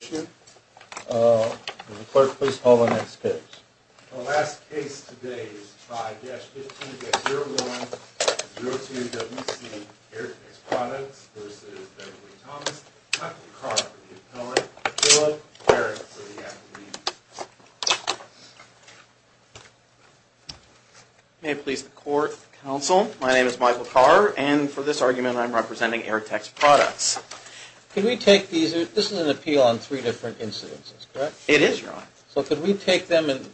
The Clerk, please call the next case. The last case today is 5-15-011-02-WC, Airtex Products v. Beverly Thomas. Michael Carr for the Appellant, Philip Barrett for the Academy. May it please the Court, Counsel, my name is Michael Carr and for this argument I'm representing Airtex Products. This is an appeal on three different incidences, correct? It is, Your Honor. So could we take them, if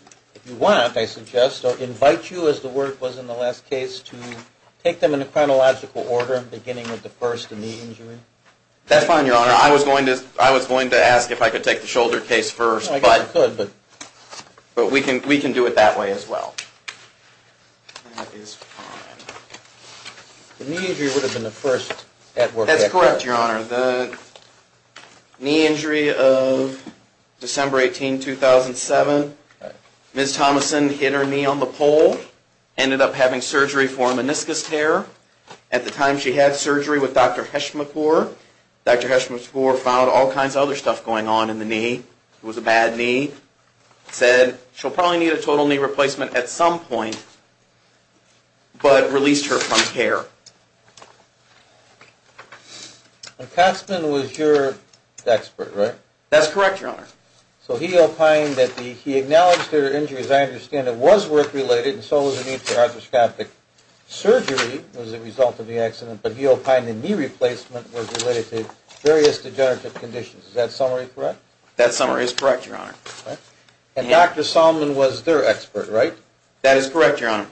you want, I suggest, or invite you, as the word was in the last case, to take them in a chronological order beginning with the first, the knee injury? That's fine, Your Honor. I was going to ask if I could take the shoulder case first, but we can do it that way as well. That is fine. The knee injury would have been the first at work. That's correct, Your Honor. The knee injury of December 18, 2007, Ms. Thomason hit her knee on the pole, ended up having surgery for a meniscus tear. At the time she had surgery with Dr. Heschmachor. Dr. Heschmachor found all kinds of other stuff going on in the knee. It was a bad knee. Ms. Thomason said she'll probably need a total knee replacement at some point, but released her from care. Cotsman was your expert, right? That's correct, Your Honor. So he opined that he acknowledged her injury, as I understand it, was work-related and so was the need for arthroscopic surgery as a result of the accident, but he opined the knee replacement was related to various degenerative conditions. Is that summary correct? That summary is correct, Your Honor. And Dr. Solman was their expert, right? That is correct, Your Honor.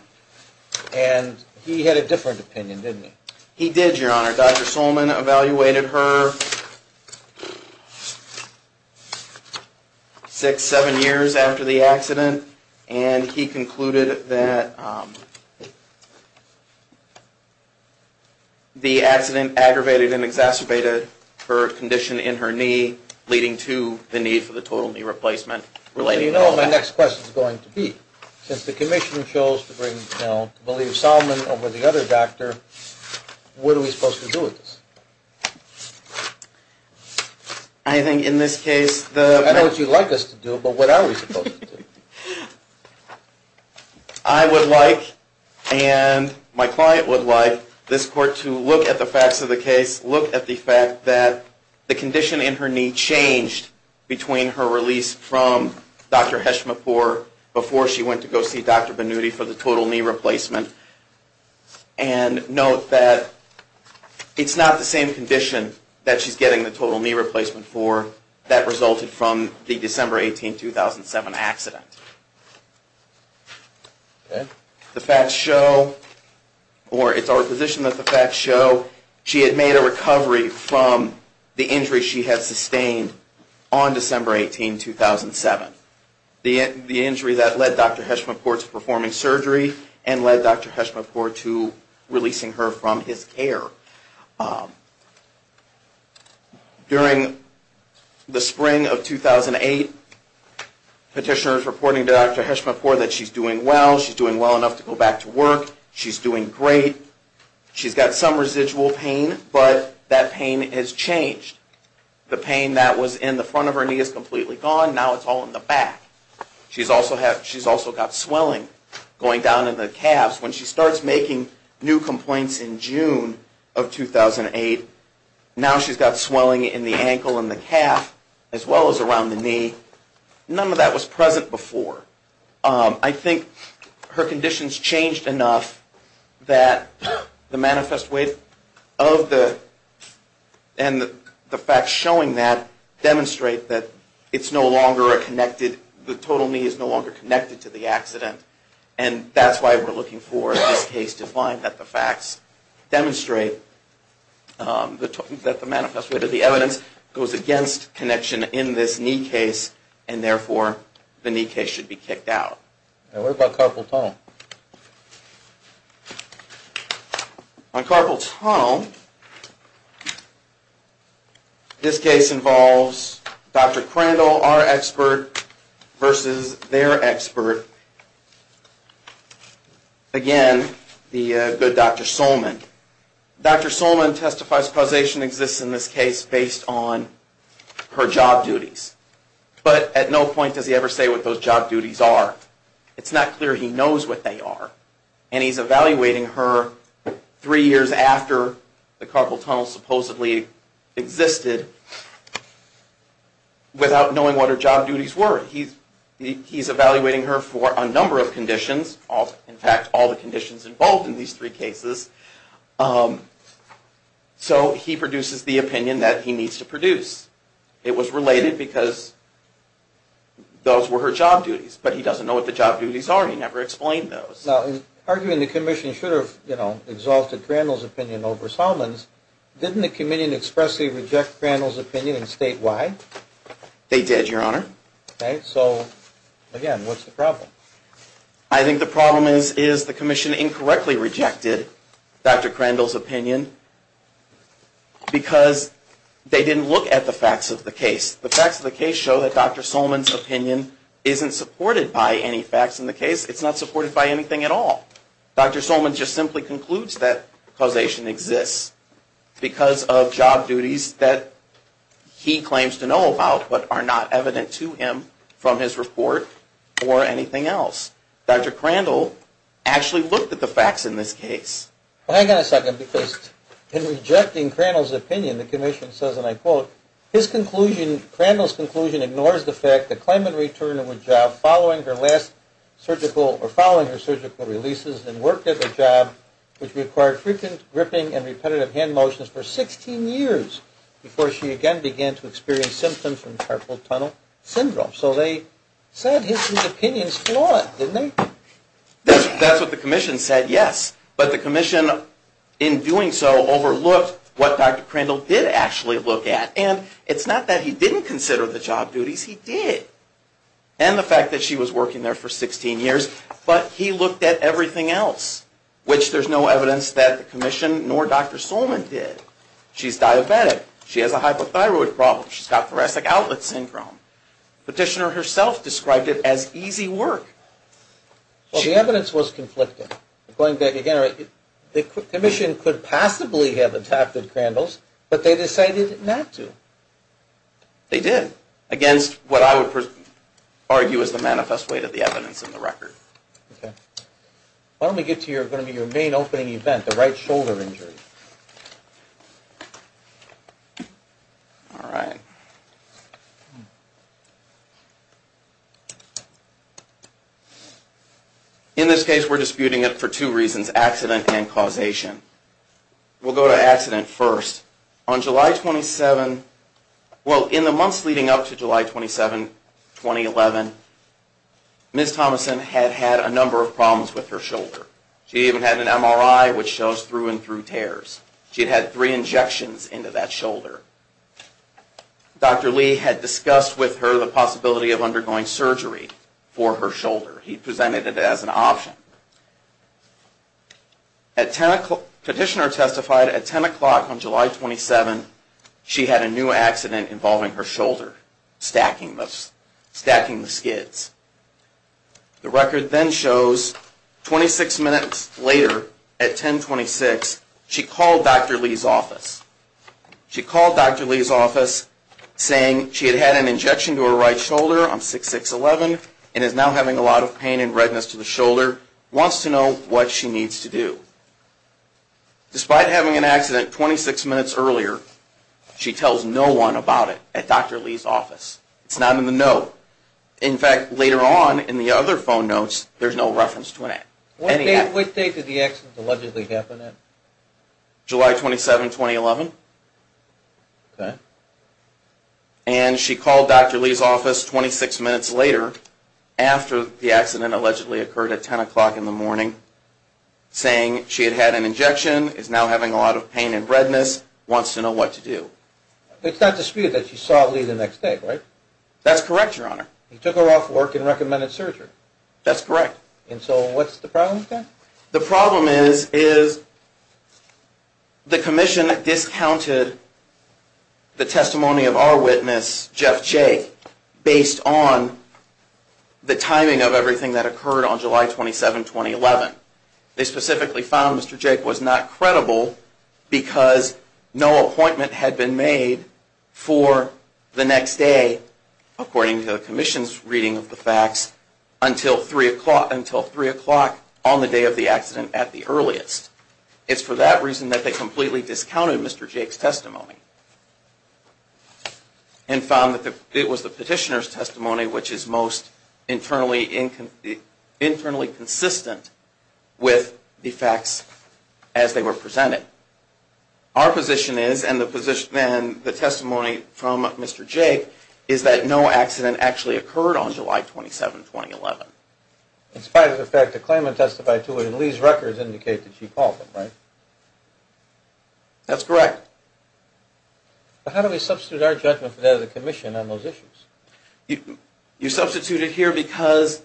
And he had a different opinion, didn't he? He did, Your Honor. Dr. Solman evaluated her six, seven years after the accident, and he concluded that the accident aggravated and exacerbated her condition in her knee, leading to the need for the total knee replacement. Well, you know what my next question is going to be. Since the Commissioner chose to bring, you know, to believe Solman over the other doctor, what are we supposed to do with this? I think in this case the... I would like and my client would like this court to look at the facts of the case, look at the fact that the condition in her knee changed between her release from Dr. Hesch-Mappour before she went to go see Dr. Benuti for the total knee replacement, and note that it's not the same condition that she's getting the total knee replacement for that resulted from the December 18, 2007 accident. The facts show, or it's our position that the facts show she had made a recovery from the injury she had sustained on December 18, 2007. The injury that led Dr. Hesch-Mappour to performing surgery and led Dr. Hesch-Mappour to releasing her from his care. During the spring of 2008, petitioners reporting to Dr. Hesch-Mappour that she's doing well, she's doing well enough to go back to work, she's doing great. She's got some residual pain, but that pain has changed. The pain that was in the front of her knee is completely gone, now it's all in the back. She's also got swelling going down in the calves. When she starts making new complaints in June of 2008, now she's got swelling in the ankle and the calf as well as around the knee. None of that was present before. I think her conditions changed enough that the manifest weight of the, and the facts showing that demonstrate that it's no longer a connected, the total knee is no longer connected to the accident. And that's why we're looking for this case to find that the facts demonstrate that the manifest weight of the evidence goes against connection in this knee case. And therefore the knee case should be kicked out. Now what about Carpal Tunnel? On Carpal Tunnel, this case involves Dr. Crandall, our expert, versus their expert, again, the good Dr. Solman. Dr. Solman testifies causation exists in this case based on her job duties. But at no point does he ever say what those job duties are. It's not clear he knows what they are. And he's evaluating her three years after the Carpal Tunnel supposedly existed without knowing what her job duties were. He's evaluating her for a number of conditions, in fact all the conditions involved in these three cases. So he produces the opinion that he needs to produce. It was related because those were her job duties. But he doesn't know what the job duties are. He never explained those. Now, arguing the commission should have, you know, exalted Crandall's opinion over Solman's, didn't the committee expressly reject Crandall's opinion and state why? They did, Your Honor. So, again, what's the problem? I think the problem is the commission incorrectly rejected Dr. Crandall's opinion because they didn't look at the facts of the case. The facts of the case show that Dr. Solman's opinion isn't supported by any facts in the case. It's not supported by anything at all. Dr. Solman just simply concludes that causation exists because of job duties that he claims to know about but are not evident to him from his report or anything else. Dr. Crandall actually looked at the facts in this case. Well, hang on a second because in rejecting Crandall's opinion, the commission says, and I quote, his conclusion, Crandall's conclusion ignores the fact that Clement returned to her job following her last surgical or following her surgical releases and worked at the job which required frequent gripping and repetitive hand motions for 16 years before she again began to experience symptoms from carpal tunnel syndrome. So they said his opinion's flawed, didn't they? That's what the commission said, yes. But the commission in doing so overlooked what Dr. Crandall did actually look at. And it's not that he didn't consider the job duties, he did. And the fact that she was working there for 16 years, but he looked at everything else, which there's no evidence that the commission nor Dr. Solman did. She's diabetic. She has a hypothyroid problem. She's got thoracic outlet syndrome. Petitioner herself described it as easy work. Well, the evidence was conflicting. Going back again, the commission could possibly have adapted Crandall's, but they decided not to. They did, against what I would argue is the manifest weight of the evidence in the record. Okay. Why don't we get to your main opening event, the right shoulder injury. All right. In this case, we're disputing it for two reasons, accident and causation. We'll go to accident first. On July 27, well, in the months leading up to July 27, 2011, Ms. Thomason had had a number of problems with her shoulder. She even had an MRI which shows through and through tears. She had had three injections into that shoulder. Dr. Lee had discussed with her the possibility of undergoing surgery for her shoulder. He presented it as an option. Petitioner testified at 10 o'clock on July 27, she had a new accident involving her shoulder, stacking the skids. The record then shows 26 minutes later at 10.26, she called Dr. Lee's office. She called Dr. Lee's office saying she had had an injection to her right shoulder on 6.6.11 and is now having a lot of pain and redness to the shoulder, wants to know what she needs to do. Despite having an accident 26 minutes earlier, she tells no one about it at Dr. Lee's office. It's not in the note. In fact, later on in the other phone notes, there's no reference to an accident. What date did the accident allegedly happen at? July 27, 2011. Okay. And she called Dr. Lee's office 26 minutes later, after the accident allegedly occurred at 10 o'clock in the morning, saying she had had an injection, is now having a lot of pain and redness, wants to know what to do. It's not disputed that she saw Lee the next day, right? That's correct, Your Honor. He took her off work and recommended surgery. That's correct. And so what's the problem with that? The problem is the commission discounted the testimony of our witness, Jeff Jake, based on the timing of everything that occurred on July 27, 2011. They specifically found Mr. Jake was not credible because no appointment had been made for the next day, according to the commission's reading of the facts, until 3 o'clock on the day of the accident at the earliest. It's for that reason that they completely discounted Mr. Jake's testimony and found that it was the petitioner's testimony which is most internally consistent with the facts as they were presented. Our position is, and the testimony from Mr. Jake, is that no accident actually occurred on July 27, 2011. In spite of the fact that the claimant testified to it and Lee's records indicate that she called him, right? That's correct. How do we substitute our judgment for that of the commission on those issues? You substitute it here because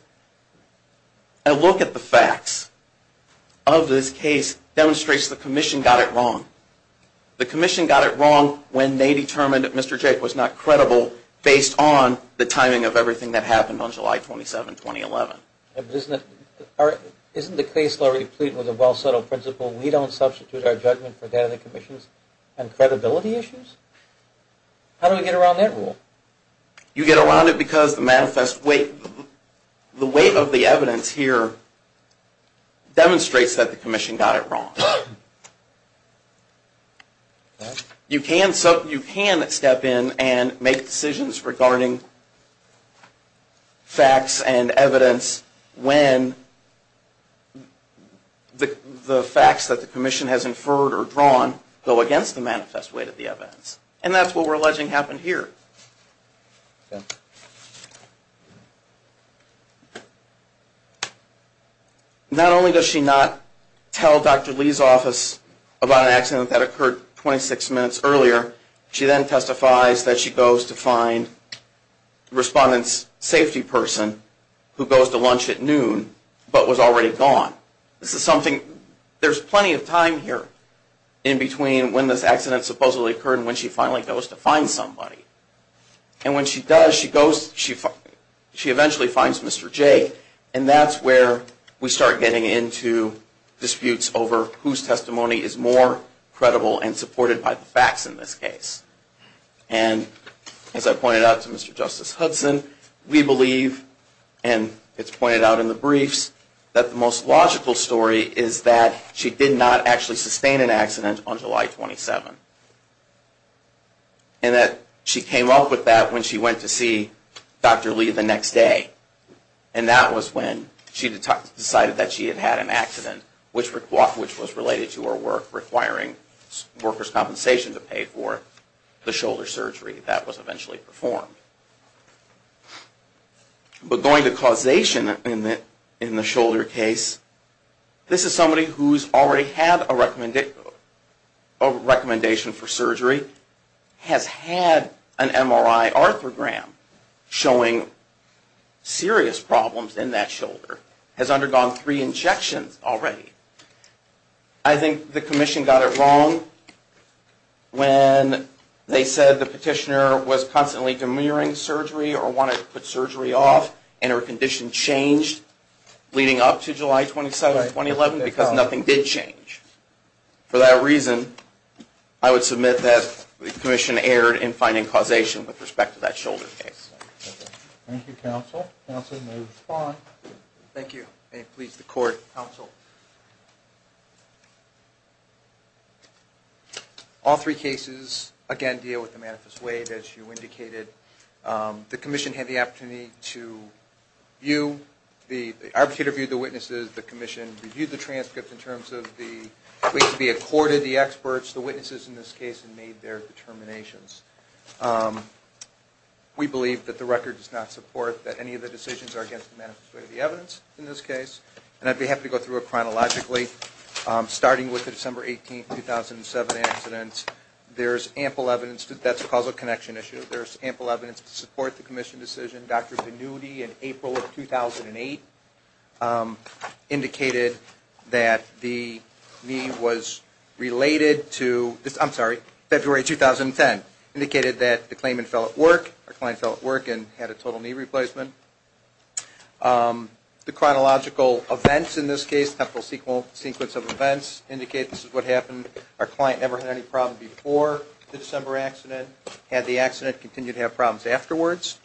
a look at the facts of this case demonstrates the commission got it wrong. The commission got it wrong when they determined that Mr. Jake was not credible based on the timing of everything that happened on July 27, 2011. But isn't the case already complete with a well-settled principle we don't substitute our judgment for that of the commission's on credibility issues? How do we get around that rule? You get around it because the weight of the evidence here demonstrates that the commission got it wrong. You can step in and make decisions regarding facts and evidence when the facts that the commission has inferred or drawn go against the manifest weight of the evidence. And that's what we're alleging happened here. Not only does she not tell Dr. Lee's office about an accident that occurred 26 minutes earlier, she then testifies that she goes to find the respondent's safety person who goes to lunch at noon but was already gone. There's plenty of time here in between when this accident supposedly occurred and when she finally goes to find somebody. And when she does, she eventually finds Mr. Jake and that's where we start getting into disputes over whose testimony is more credible and supported by the facts in this case. And as I pointed out to Mr. Justice Hudson, we believe, and it's pointed out in the briefs, that the most logical story is that she did not actually sustain an accident on July 27. And that she came up with that when she went to see Dr. Lee the next day. And that was when she decided that she had had an accident which was related to her work requiring workers' compensation to pay for the shoulder surgery that was eventually performed. But going to causation in the shoulder case, this is somebody who's already had a recommendation for surgery, has had an MRI arthrogram showing serious problems in that shoulder, has undergone three injections already. I think the commission got it wrong when they said the petitioner was constantly demurring surgery or wanted to put surgery off and her condition changed leading up to July 27, 2011 because nothing did change. For that reason, I would submit that the commission erred in finding causation with respect to that shoulder case. Thank you, counsel. Counsel, you may respond. Thank you. May it please the court, counsel. All three cases, again, deal with the manifest waive as you indicated. The commission had the opportunity to view, the arbitrator viewed the witnesses, the commission reviewed the transcripts in terms of the ways to be accorded, the experts, the witnesses in this case, and made their determinations. We believe that the record does not support that any of the decisions are against the manifest waive of the evidence in this case. And I'd be happy to go through it chronologically. Starting with the December 18, 2007 accidents, there's ample evidence that that's a causal connection issue. There's ample evidence to support the commission decision. Dr. Pannutti in April of 2008 indicated that the knee was related to, I'm sorry, February 2010, indicated that the claimant fell at work, her client fell at work and had a total knee replacement. The chronological events in this case, temporal sequence of events, indicate this is what happened. Our client never had any problem before the December accident, had the accident, continued to have problems afterwards.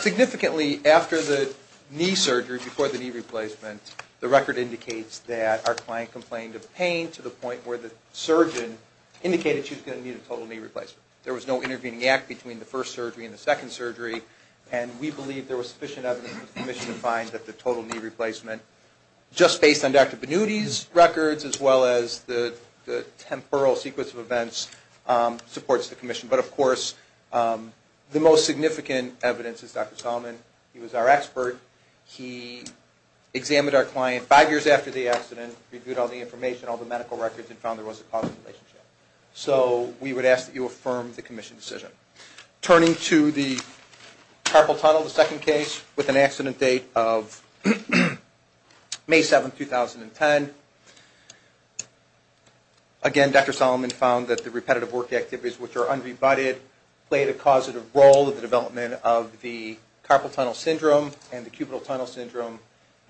Significantly, after the knee surgery, before the knee replacement, the record indicates that our client complained of pain to the point where the surgeon indicated she was going to need a total knee replacement. There was no intervening act between the first surgery and the second surgery, and we believe there was sufficient evidence for the commission to find that the total knee replacement, just based on Dr. Pannutti's records, as well as the temporal sequence of events, supports the commission. But, of course, the most significant evidence is Dr. Solomon. He was our expert. He examined our client five years after the accident, reviewed all the information, all the medical records, and found there was a causal relationship. So we would ask that you affirm the commission decision. Turning to the carpal tunnel, the second case, with an accident date of May 7, 2010. Again, Dr. Solomon found that the repetitive work activities, which are unrebutted, played a causative role in the development of the carpal tunnel syndrome and the cubital tunnel syndrome,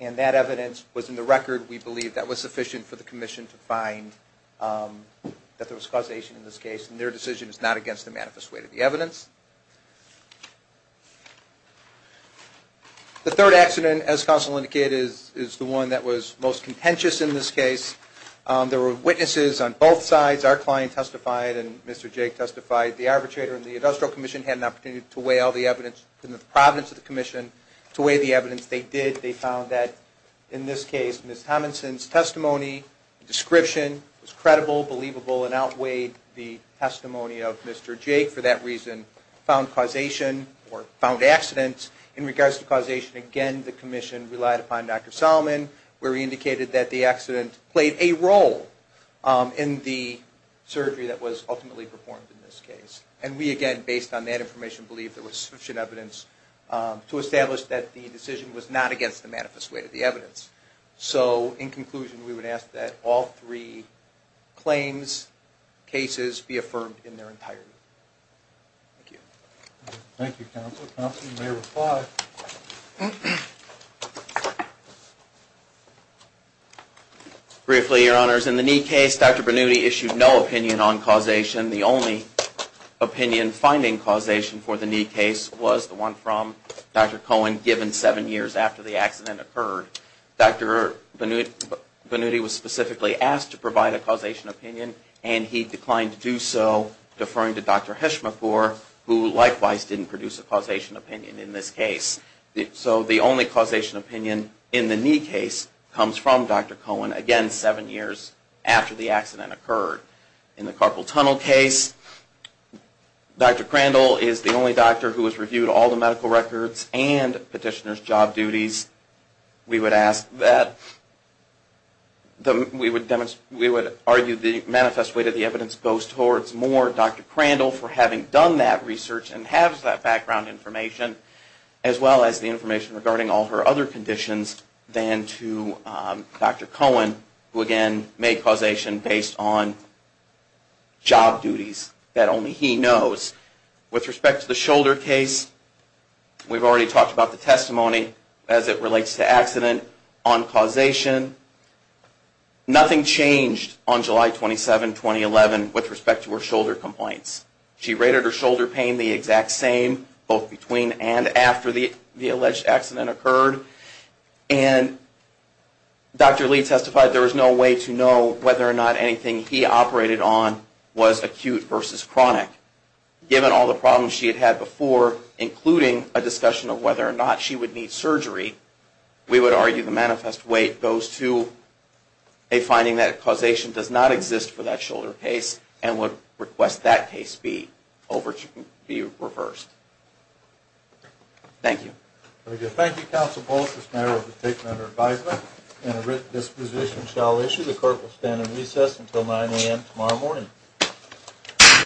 and that evidence was in the record. We believe that was sufficient for the commission to find that there was causation in this case, and their decision is not against the manifest weight of the evidence. The third accident, as counsel indicated, is the one that was most contentious in this case. There were witnesses on both sides. Our client testified, and Mr. Jake testified. The arbitrator and the industrial commission had an opportunity to weigh all the evidence in the providence of the commission. To weigh the evidence they did, they found that, in this case, Ms. Tominson's testimony and description was credible, believable, and outweighed the testimony of Mr. Jake. For that reason, found causation, or found accidents. In regards to causation, again, the commission relied upon Dr. Solomon, where he indicated that the accident played a role in the surgery that was ultimately performed in this case. And we, again, based on that information, believe there was sufficient evidence to establish that the decision was not against the manifest weight of the evidence. So, in conclusion, we would ask that all three claims, cases, be affirmed in their entirety. Thank you. Thank you, counsel. Counsel, you may reply. Briefly, Your Honors, in the knee case, Dr. Bernudi issued no opinion on causation. The only opinion finding causation for the knee case was the one from Dr. Cohen, given seven years after the accident occurred. Dr. Bernudi was specifically asked to provide a causation opinion, and he declined to do so, deferring to Dr. Heschmachor, who likewise didn't produce a causation opinion in this case. So, the only causation opinion in the knee case comes from Dr. Cohen, again, seven years after the accident occurred. In the carpal tunnel case, Dr. Crandall is the only doctor who has records and petitioner's job duties. We would argue the manifest weight of the evidence goes towards more Dr. Crandall for having done that research and has that background information, as well as the information regarding all her other conditions than to Dr. Cohen, who, again, made causation based on job duties that only he knows. With respect to the shoulder case, we've already talked about the testimony as it relates to accident on causation. Nothing changed on July 27, 2011, with respect to her shoulder complaints. She rated her shoulder pain the exact same, both between and after the alleged accident occurred, and Dr. Lee testified there was no way to know whether or not anything he operated on was acute versus chronic. Given all the problems she had had before, including a discussion of whether or not she would need surgery, we would argue the manifest weight goes to a finding that causation does not exist for that shoulder case and would request that case be reversed. Thank you. Thank you, Counsel Polis. This matter was taken under advisement and a written disposition shall issue. The Court will stand at recess until 9 a.m. tomorrow morning.